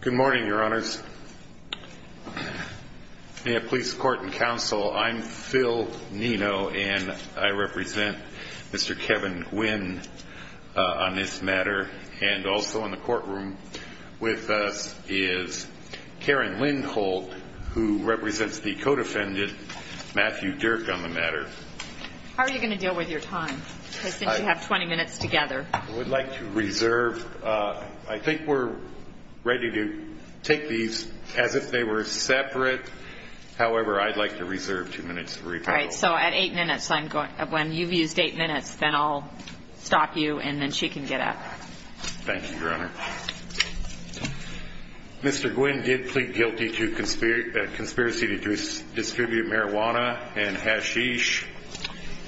Good morning, Your Honors. In the Police Court and Counsel, I'm Phil Nino, and I represent Mr. Kevin Guinn on this matter. And also in the courtroom with us is Karen Lindholt, who represents the co-defendant, Matthew Dierck, on the matter. How are you going to deal with your time, since you have 20 minutes together? I would like to reserve. I think we're ready to take these as if they were separate. However, I'd like to reserve two minutes to rebuttal. All right. So at eight minutes, when you've used eight minutes, then I'll stop you, and then she can get up. Thank you, Your Honor. Mr. Guinn did plead guilty to conspiracy to distribute marijuana and hashish,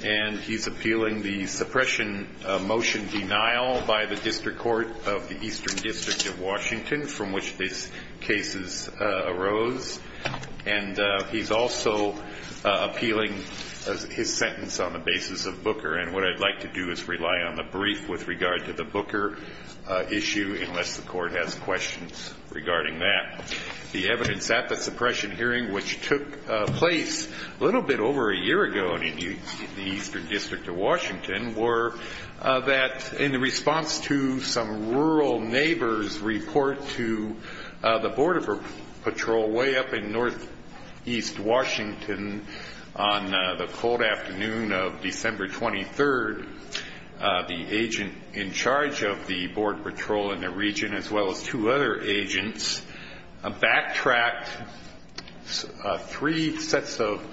and he's appealing the suppression motion denial by the District Court of the Eastern District of Washington, from which these cases arose. And he's also appealing his sentence on the basis of Booker. And what I'd like to do is rely on the brief with regard to the Booker issue, unless the Court has questions regarding that. The evidence at the suppression hearing, which took place a little bit over a year ago in the Eastern District of Washington, were that in response to some rural neighbors' report to the Border Patrol way up in northeast Washington, on the cold afternoon of December 23rd, the agent in charge of the Border Patrol in the region, as well as two other agents, backtracked three sets of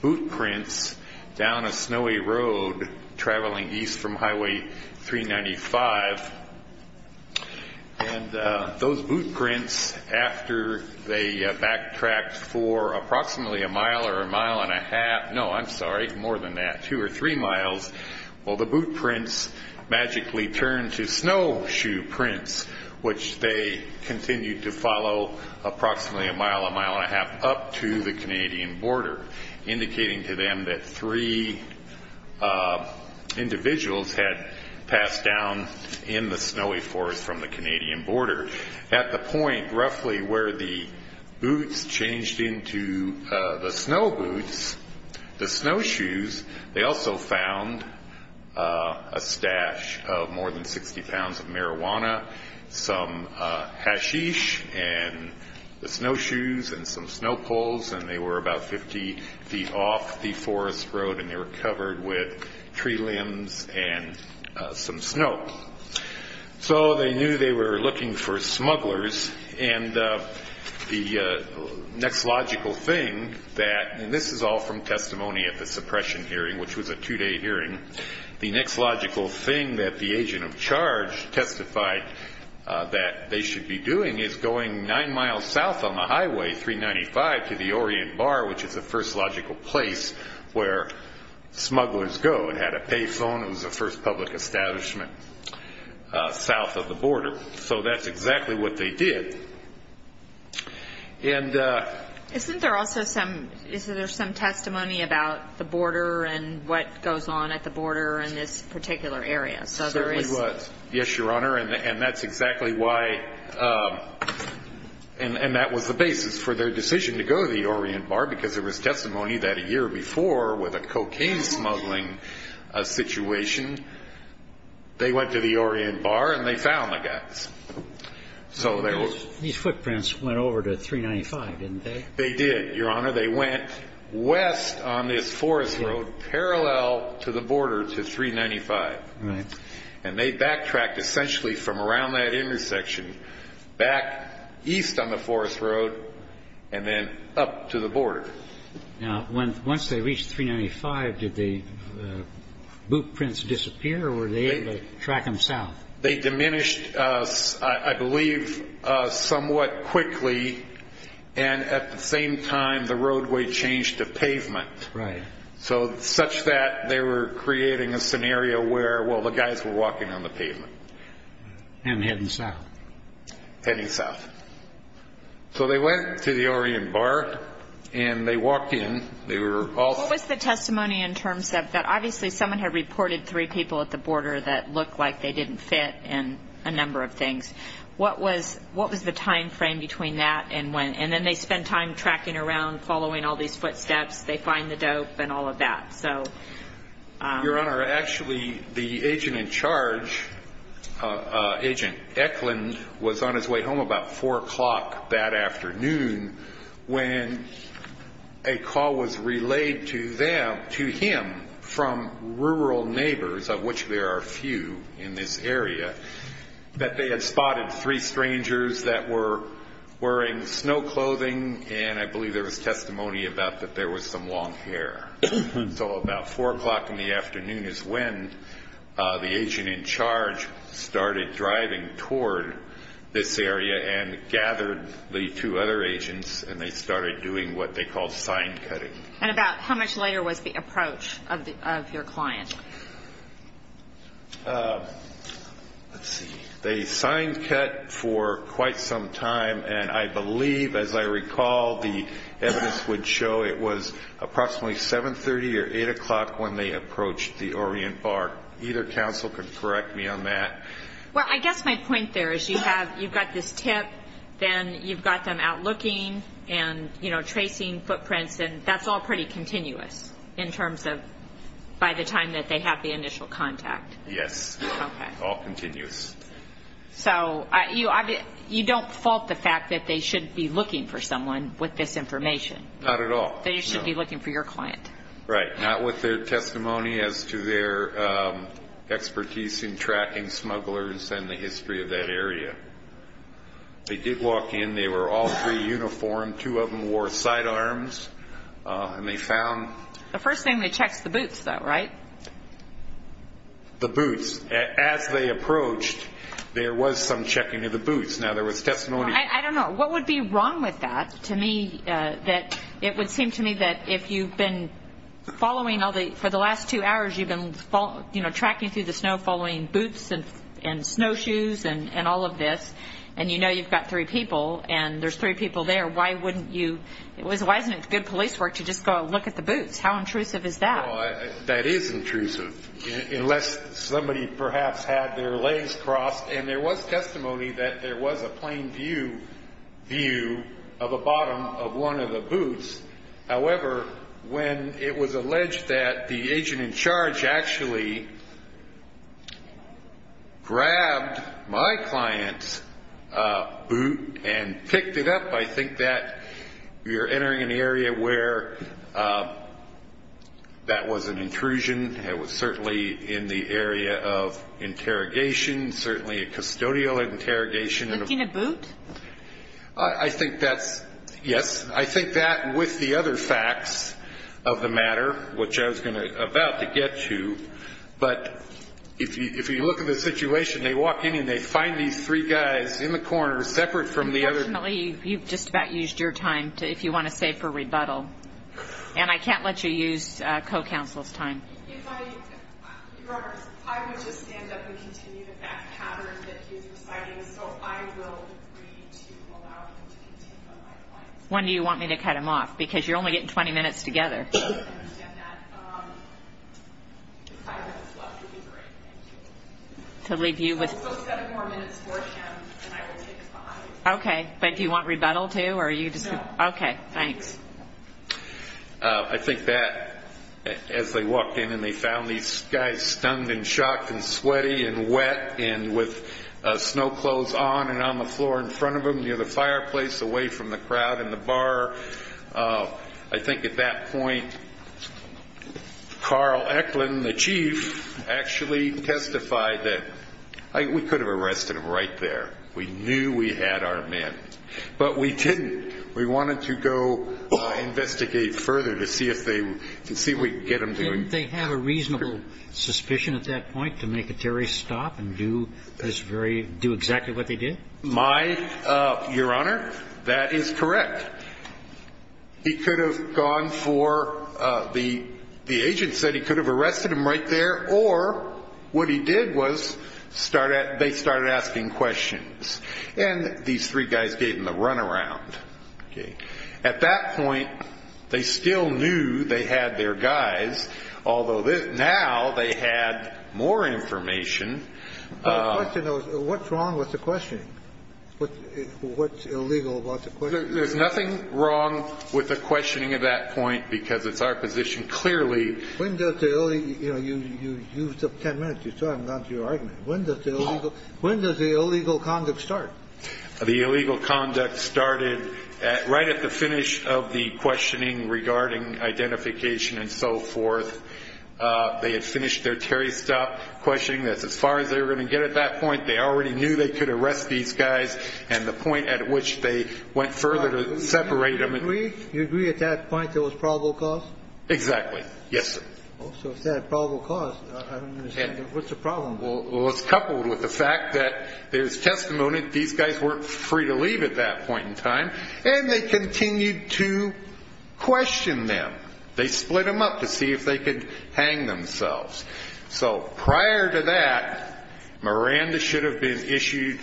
boot prints down a snowy road traveling east from Highway 395. And those boot prints, after they backtracked for approximately a mile or a mile and a half, no, I'm sorry, more than that, two or three miles, well, the boot prints magically turned to snowshoe prints, which they continued to follow approximately a mile, a mile and a half, up to the Canadian border, indicating to them that three individuals had passed down in the snowy forest from the Canadian border. At the point roughly where the boots changed into the snow boots, the snowshoes, they also found a stash of more than 60 pounds of marijuana, some hashish, and the snowshoes, and some snow poles, and they were about 50 feet off the forest road, and they were covered with tree limbs and some snow. So they knew they were looking for smugglers. And the next logical thing that, and this is all from testimony at the suppression hearing, which was a two-day hearing. The next logical thing that the agent of charge testified that they should be doing is going nine miles south on the highway 395 to the Orient Bar, which is the first logical place where smugglers go. It had a pay phone. It was the first public establishment south of the border. So that's exactly what they did. Isn't there also some, is there some testimony about the border and what goes on at the border in this particular area? There certainly was, yes, Your Honor, and that's exactly why, and that was the basis for their decision to go to the Orient Bar because there was testimony that a year before with a cocaine smuggling situation, they went to the Orient Bar and they found the guys. These footprints went over to 395, didn't they? They did, Your Honor. They went west on this forest road parallel to the border to 395. And they backtracked essentially from around that intersection back east on the forest road and then up to the border. Now, once they reached 395, did the boot prints disappear or were they able to track them south? They diminished, I believe, somewhat quickly, and at the same time the roadway changed to pavement. Right. So such that they were creating a scenario where, well, the guys were walking on the pavement. And heading south. Heading south. So they went to the Orient Bar and they walked in. What was the testimony in terms of that? Obviously someone had reported three people at the border that looked like they didn't fit and a number of things. What was the time frame between that and when? And then they spent time tracking around, following all these footsteps. They find the dope and all of that. Your Honor, actually the agent in charge, Agent Eklund, was on his way home about 4 o'clock that afternoon when a call was relayed to him from rural neighbors, of which there are a few in this area, that they had spotted three strangers that were wearing snow clothing and I believe there was testimony about that there was some long hair. So about 4 o'clock in the afternoon is when the agent in charge started driving toward this area and gathered the two other agents and they started doing what they call sign cutting. And about how much later was the approach of your client? Let's see. They signed cut for quite some time and I believe, as I recall, the evidence would show it was approximately 7.30 or 8 o'clock when they approached the Orient Bar. Either counsel can correct me on that. Well, I guess my point there is you've got this tip, then you've got them out looking and tracing footprints and that's all pretty continuous in terms of by the time that they have the initial contact. Yes. Okay. All continuous. So you don't fault the fact that they should be looking for someone with this information? Not at all. They should be looking for your client? Right. Not with their testimony as to their expertise in tracking smugglers and the history of that area. They did walk in. They were all three uniformed. Two of them wore sidearms and they found... The first thing that checks the boots, though, right? The boots. As they approached, there was some checking of the boots. Now, there was testimony... I don't know. What would be wrong with that? To me, it would seem to me that if you've been following all the... For the last two hours, you've been tracking through the snow, following boots and snowshoes and all of this, and you know you've got three people and there's three people there, why wouldn't you... Why isn't it good police work to just go look at the boots? How intrusive is that? That is intrusive, unless somebody perhaps had their legs crossed. And there was testimony that there was a plain view of a bottom of one of the boots. However, when it was alleged that the agent in charge actually grabbed my client's boot and picked it up, I think that you're entering an area where that was an intrusion. It was certainly in the area of interrogation, certainly a custodial interrogation. Licking a boot? I think that's, yes. I think that, with the other facts of the matter, which I was about to get to, but if you look at the situation, they walk in and they find these three guys in the corner, separate from the other... Unfortunately, you've just about used your time, if you want to save for rebuttal. And I can't let you use co-counsel's time. If I... I would just stand up and continue the back pattern that he's reciting, so I will agree to allow him to continue on my client's behalf. When do you want me to cut him off? Because you're only getting 20 minutes together. I understand that. Five minutes left would be great, thank you. To leave you with... So seven more minutes for him, and I will take five. Okay, but do you want rebuttal, too, or are you just... No. Okay, thanks. I think that, as they walked in and they found these guys stung and shocked and sweaty and wet and with snow clothes on and on the floor in front of them near the fireplace, away from the crowd in the bar, I think at that point Carl Eklund, the chief, actually testified that we could have arrested him right there. We knew we had our men, but we didn't. We wanted to go investigate further to see if we could get him to... Didn't they have a reasonable suspicion at that point to make a terrorist stop and do exactly what they did? My, Your Honor, that is correct. He could have gone for... The agent said he could have arrested him right there, or what he did was they started asking questions, and these three guys gave him the runaround. At that point, they still knew they had their guys, although now they had more information. But the question was, what's wrong with the questioning? What's illegal about the questioning? There's nothing wrong with the questioning at that point because it's our position. Clearly... When does the illegal... You used up ten minutes. You still haven't gotten to your argument. When does the illegal conduct start? The illegal conduct started right at the finish of the questioning regarding identification and so forth. They had finished their terrorist stop questioning. As far as they were going to get at that point, they already knew they could arrest these guys and the point at which they went further to separate them... Do you agree at that point there was probable cause? Exactly. Yes, sir. So if there's probable cause, I don't understand. What's the problem? Well, it's coupled with the fact that there's testimony that these guys weren't free to leave at that point in time, and they continued to question them. They split them up to see if they could hang themselves. So prior to that, Miranda should have been issued,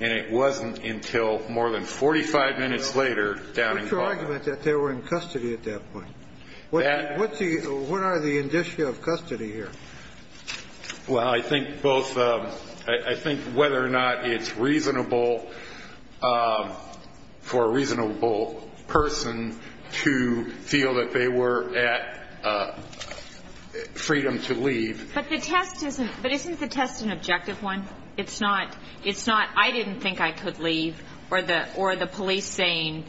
and it wasn't until more than 45 minutes later down in... What's your argument that they were in custody at that point? What are the indicia of custody here? Well, I think both... I think whether or not it's reasonable for a reasonable person to feel that they were at freedom to leave... But the test isn't... But isn't the test an objective one? It's not, I didn't think I could leave, or the police saying...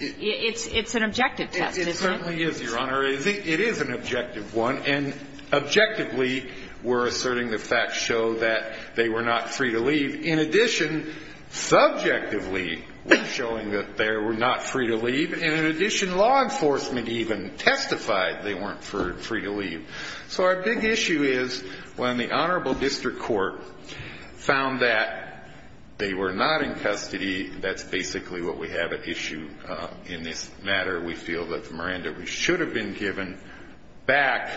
It's an objective test, isn't it? It certainly is, Your Honor. It is an objective one, and objectively we're asserting the facts show that they were not free to leave. In addition, subjectively we're showing that they were not free to leave, and in addition, law enforcement even testified they weren't free to leave. So our big issue is when the honorable district court found that they were not in custody, that's basically what we have at issue in this matter. We feel that Miranda should have been given back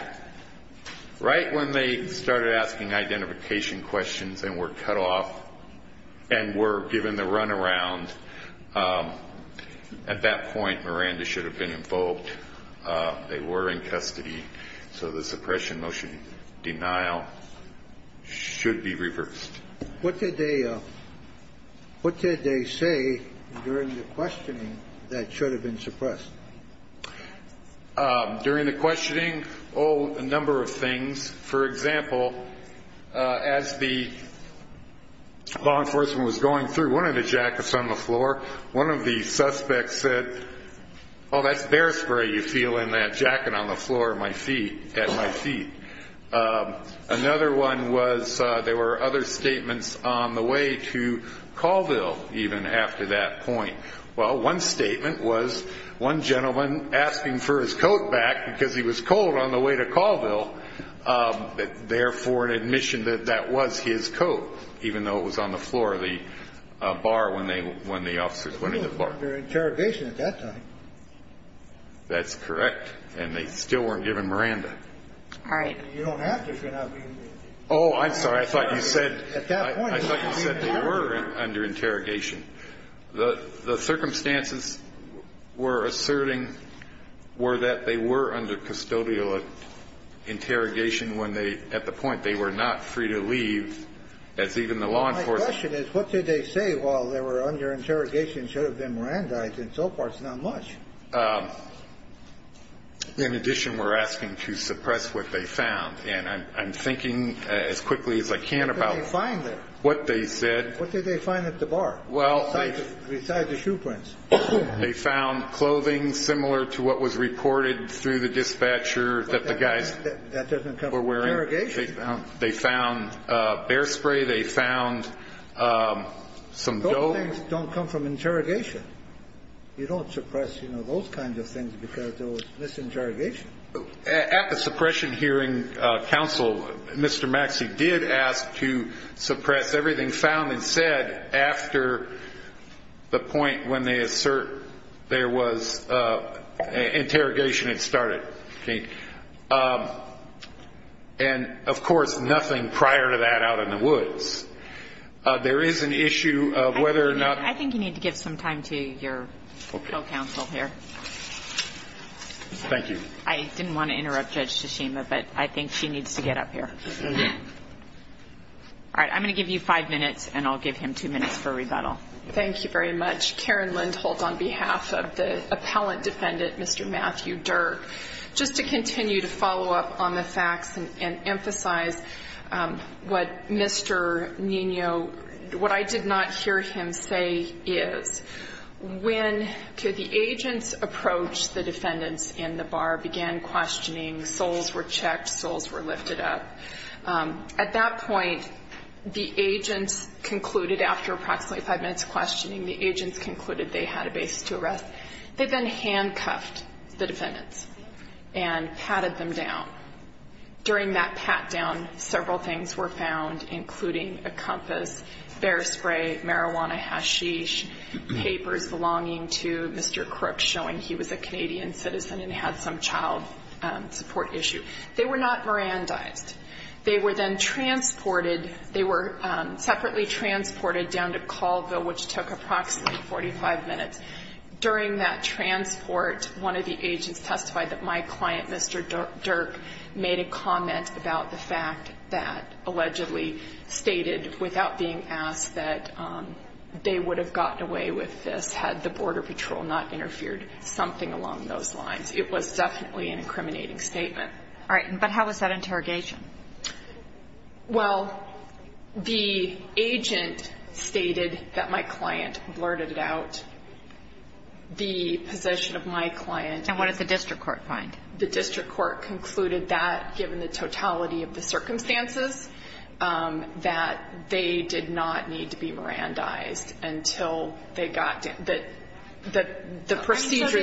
right when they started asking identification questions and were cut off and were given the runaround. At that point, Miranda should have been invoked. They were in custody, so the suppression motion denial should be reversed. What did they say during the questioning that should have been suppressed? During the questioning, oh, a number of things. For example, as the law enforcement was going through one of the jackets on the floor, one of the suspects said, oh, that's bear spray you feel in that jacket on the floor at my feet. Another one was there were other statements on the way to Colville even after that point. Well, one statement was one gentleman asking for his coat back because he was cold on the way to Colville, but therefore an admission that that was his coat, even though it was on the floor of the bar when the officers went in the bar. They were under interrogation at that time. That's correct, and they still weren't given Miranda. All right. You don't have to if you're not going to be in custody. Oh, I'm sorry. I thought you said they were under interrogation. The circumstances we're asserting were that they were under custodial interrogation when they, at the point, they were not free to leave as even the law enforcement. My question is what did they say while they were under interrogation? It should have been Miranda. I think so far it's not much. In addition, we're asking to suppress what they found. And I'm thinking as quickly as I can about what they said. What did they find at the bar? Well. Besides the shoe prints. They found clothing similar to what was reported through the dispatcher that the guys were wearing. That doesn't cover interrogation. They found bear spray. They found some dough. Those things don't come from interrogation. You don't suppress, you know, those kinds of things because there was misinterrogation. At the suppression hearing, counsel, Mr. Maxey did ask to suppress everything found and said after the point when they assert there was interrogation had started. And, of course, nothing prior to that out in the woods. There is an issue of whether or not. I think you need to give some time to your co-counsel here. Thank you. I didn't want to interrupt Judge Tsushima, but I think she needs to get up here. All right. I'm going to give you five minutes, and I'll give him two minutes for rebuttal. Thank you very much. Karen Lindholt on behalf of the appellant defendant, Mr. Matthew Dirk. Just to continue to follow up on the facts and emphasize what Mr. Nino, what I did not hear him say is when the agents approached the defendants in the bar, began questioning, souls were checked, souls were lifted up. At that point, the agents concluded after approximately five minutes of questioning, the agents concluded they had a basis to arrest. They then handcuffed the defendants and patted them down. During that pat down, several things were found, including a compass, bear spray, marijuana hashish, papers belonging to Mr. Crook showing he was a Canadian citizen and had some child support issue. They were not Mirandized. They were then transported. They were separately transported down to Colville, which took approximately 45 minutes. During that transport, one of the agents testified that my client, Mr. Dirk, made a comment about the fact that allegedly stated without being asked that they would have gotten away with this had the border patrol not interfered something along those lines. It was definitely an incriminating statement. All right. But how was that interrogation? Well, the agent stated that my client blurted out the possession of my client. And what did the district court find? The district court concluded that, given the totality of the circumstances, that they did not need to be Mirandized until they got the procedure that occurred.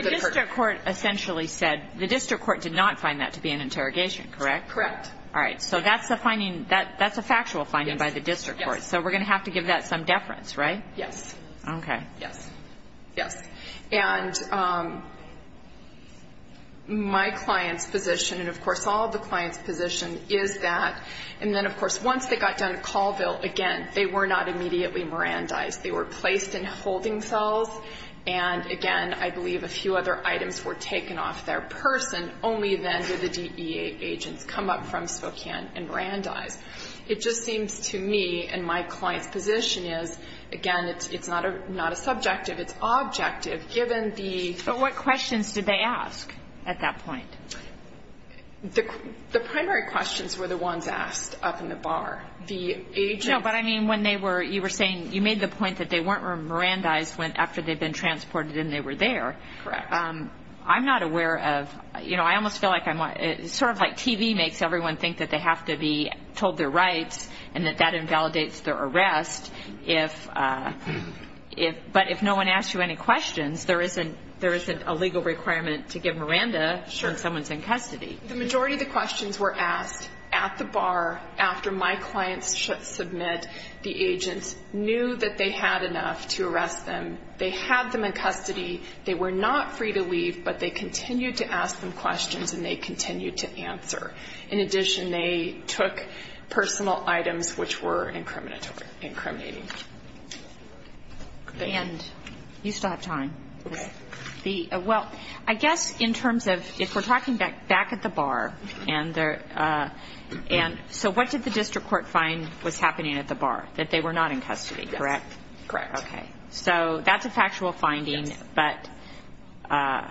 So the district court essentially said the district court did not find that to be an interrogation, correct? Correct. All right. So that's a finding that's a factual finding by the district court. Yes. So we're going to have to give that some deference, right? Yes. Okay. Yes. Yes. And my client's position, and, of course, all of the client's position is that, and then, of course, once they got done at Colville, again, they were not immediately Mirandized. They were placed in holding cells, and, again, I believe a few other items were taken off their person. Only then did the DEA agents come up from Spokane and Mirandize. It just seems to me, and my client's position is, again, it's not a subjective, it's objective, given the... But what questions did they ask at that point? The primary questions were the ones asked up in the bar. The agents... No, but, I mean, when they were, you were saying you made the point that they weren't Mirandized after they'd been transported and they were there. Correct. I'm not aware of, you know, I almost feel like I'm, sort of like TV makes everyone think that they have to be told their rights and that that invalidates their arrest. But if no one asks you any questions, there isn't a legal requirement to give Miranda when someone's in custody. Sure. The majority of the questions were asked at the bar after my client's submit. The agents knew that they had enough to arrest them. They had them in custody. They were not free to leave, but they continued to ask them questions and they continued to answer. In addition, they took personal items which were incriminating. And you still have time. Okay. The, well, I guess in terms of, if we're talking back at the bar, and there, and, so what did the district court find was happening at the bar? That they were not in custody, correct? Yes. Correct. Okay. So that's a factual finding. Yes. But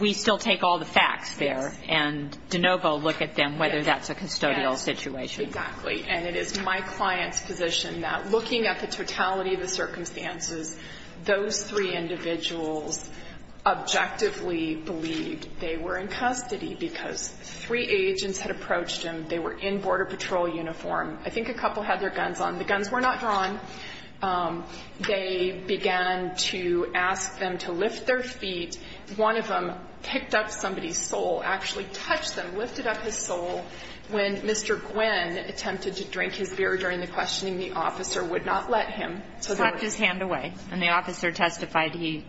we still take all the facts there. Yes. And de novo look at them whether that's a custodial situation. Yes, exactly. And it is my client's position that looking at the totality of the circumstances, those three individuals objectively believed they were in custody because three agents had approached them. They were in Border Patrol uniform. I think a couple had their guns on. The guns were not drawn. They began to ask them to lift their feet. One of them picked up somebody's sole, actually touched them, lifted up his sole. When Mr. Gwinn attempted to drink his beer during the questioning, the officer would not let him. He slapped his hand away. And the officer testified he,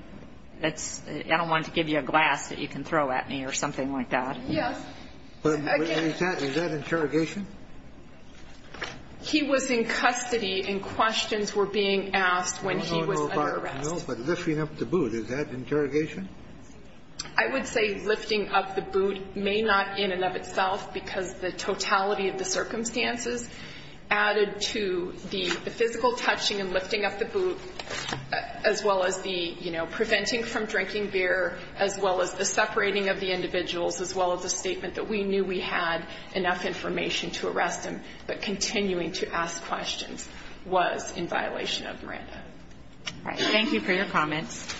that's, I don't want to give you a glass that you can throw at me or something like that. Yes. Is that interrogation? He was in custody and questions were being asked when he was under arrest. No, but lifting up the boot, is that interrogation? I would say lifting up the boot may not in and of itself because the totality of the circumstances added to the physical touching and lifting up the boot, as well as the, you know, preventing from drinking beer, as well as the separating of the individuals, as well as the statement that we knew we had enough information to arrest him, but continuing to ask questions was in violation of Miranda. All right. Thank you for your comments.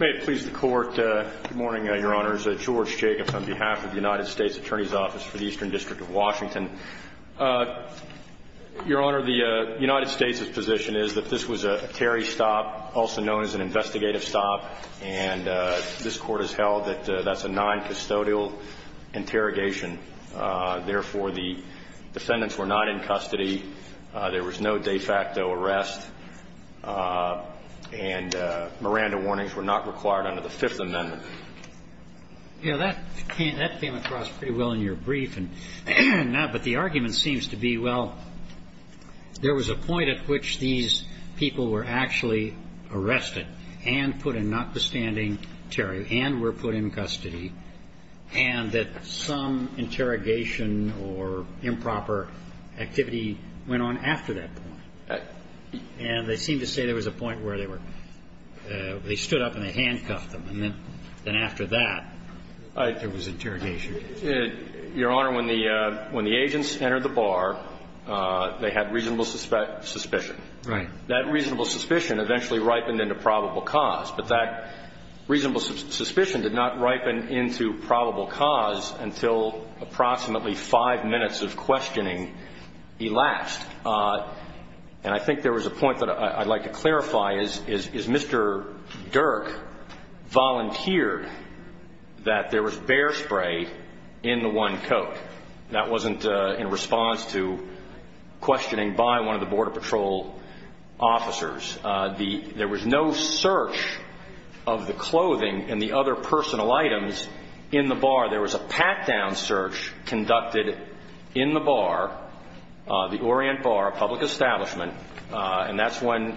May it please the Court. Good morning, Your Honors. George Jacobs on behalf of the United States Attorney's Office for the Eastern District of Washington. Your Honor, the United States' position is that this was a Terry stop, also known as an investigative stop, and this Court has held that that's a noncustodial interrogation. Therefore, the defendants were not in custody. There was no de facto arrest. And Miranda warnings were not required under the Fifth Amendment. Yeah, that came across pretty well in your brief. But the argument seems to be, well, there was a point at which these people were actually arrested and put in, notwithstanding Terry, and were put in custody, and that some interrogation or improper activity went on after that point. And they seem to say there was a point where they were – they stood up and they handcuffed them. And then after that, there was interrogation. Your Honor, when the agents entered the bar, they had reasonable suspicion. Right. That reasonable suspicion eventually ripened into probable cause. But that reasonable suspicion did not ripen into probable cause until approximately five minutes of questioning elapsed. And I think there was a point that I'd like to clarify. Is Mr. Dirk volunteered that there was bear spray in the one coat? That wasn't in response to questioning by one of the Border Patrol officers. There was no search of the clothing and the other personal items in the bar. There was a pat-down search conducted in the bar, the Orient Bar, a public establishment. And that's when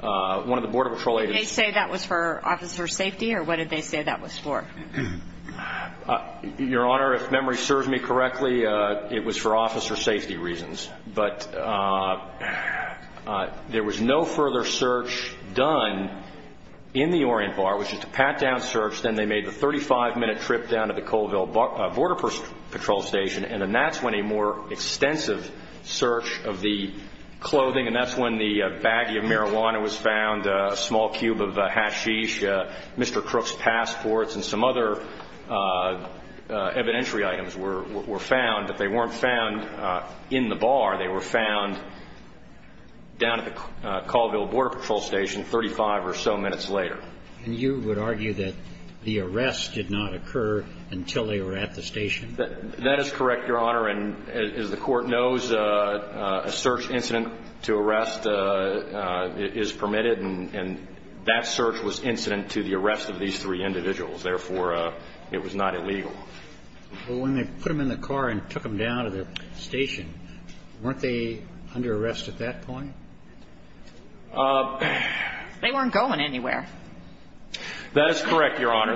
one of the Border Patrol agents – Did they say that was for officer safety, or what did they say that was for? Your Honor, if memory serves me correctly, it was for officer safety reasons. But there was no further search done in the Orient Bar. It was just a pat-down search. Then they made the 35-minute trip down to the Colville Border Patrol Station. And then that's when a more extensive search of the clothing – and that's when the baggie of marijuana was found, a small cube of hashish, Mr. Crook's passports, and some other evidentiary items were found. But they weren't found in the bar. They were found down at the Colville Border Patrol Station 35 or so minutes later. And you would argue that the arrest did not occur until they were at the station? That is correct, Your Honor. And as the Court knows, a search incident to arrest is permitted. And that search was incident to the arrest of these three individuals. Therefore, it was not illegal. Well, when they put them in the car and took them down to the station, weren't they under arrest at that point? They weren't going anywhere. That is correct, Your Honor.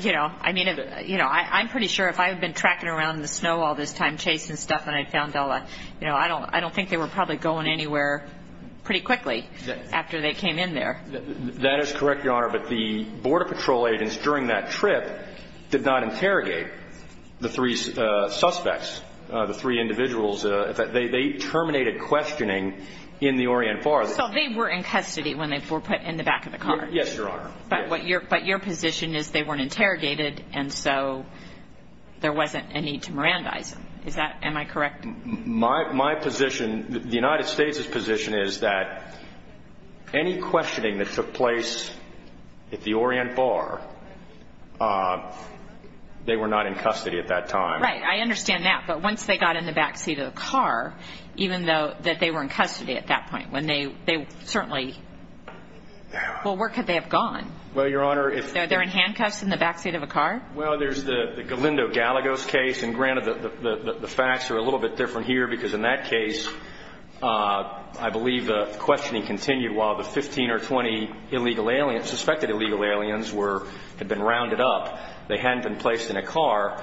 You know, I'm pretty sure if I had been tracking around in the snow all this time chasing stuff and I found all that, you know, I don't think they were probably going anywhere pretty quickly after they came in there. That is correct, Your Honor. But the Border Patrol agents during that trip did not interrogate the three suspects, the three individuals. They terminated questioning in the Orient Bar. So they were in custody when they were put in the back of the car? Yes, Your Honor. But your position is they weren't interrogated, and so there wasn't a need to Mirandize them. Am I correct? My position, the United States' position, is that any questioning that took place at the Orient Bar, they were not in custody at that time. Right, I understand that. But once they got in the back seat of the car, even though that they were in custody at that point, when they certainly – well, where could they have gone? Well, Your Honor, if – They're in handcuffs in the back seat of a car? Well, there's the Galindo-Galagos case, and granted the facts are a little bit different here because in that case, I believe the questioning continued while the 15 or 20 illegal aliens, suspected illegal aliens, had been rounded up. They hadn't been placed in a car.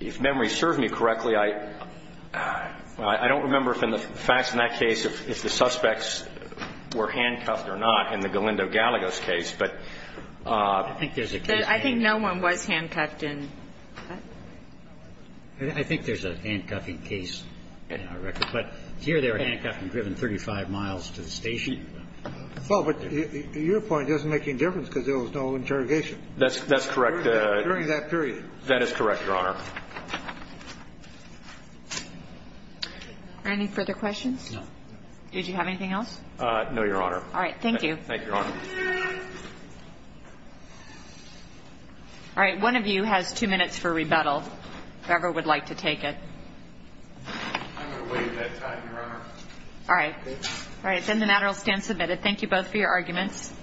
If memory serves me correctly, I don't remember if in the facts in that case if the suspects were handcuffed or not in the Galindo-Galagos case. But – I think there's a case – I think no one was handcuffed in that. I think there's a handcuffing case in our record. But here they were handcuffed and driven 35 miles to the station. Well, but your point doesn't make any difference because there was no interrogation. That's correct. During that period. That is correct, Your Honor. Any further questions? No. Did you have anything else? No, Your Honor. All right, thank you. Thank you, Your Honor. All right, one of you has two minutes for rebuttal. Whoever would like to take it. I'm going to waive that time, Your Honor. All right. All right, then the matter will stand submitted. Thank you both for your arguments.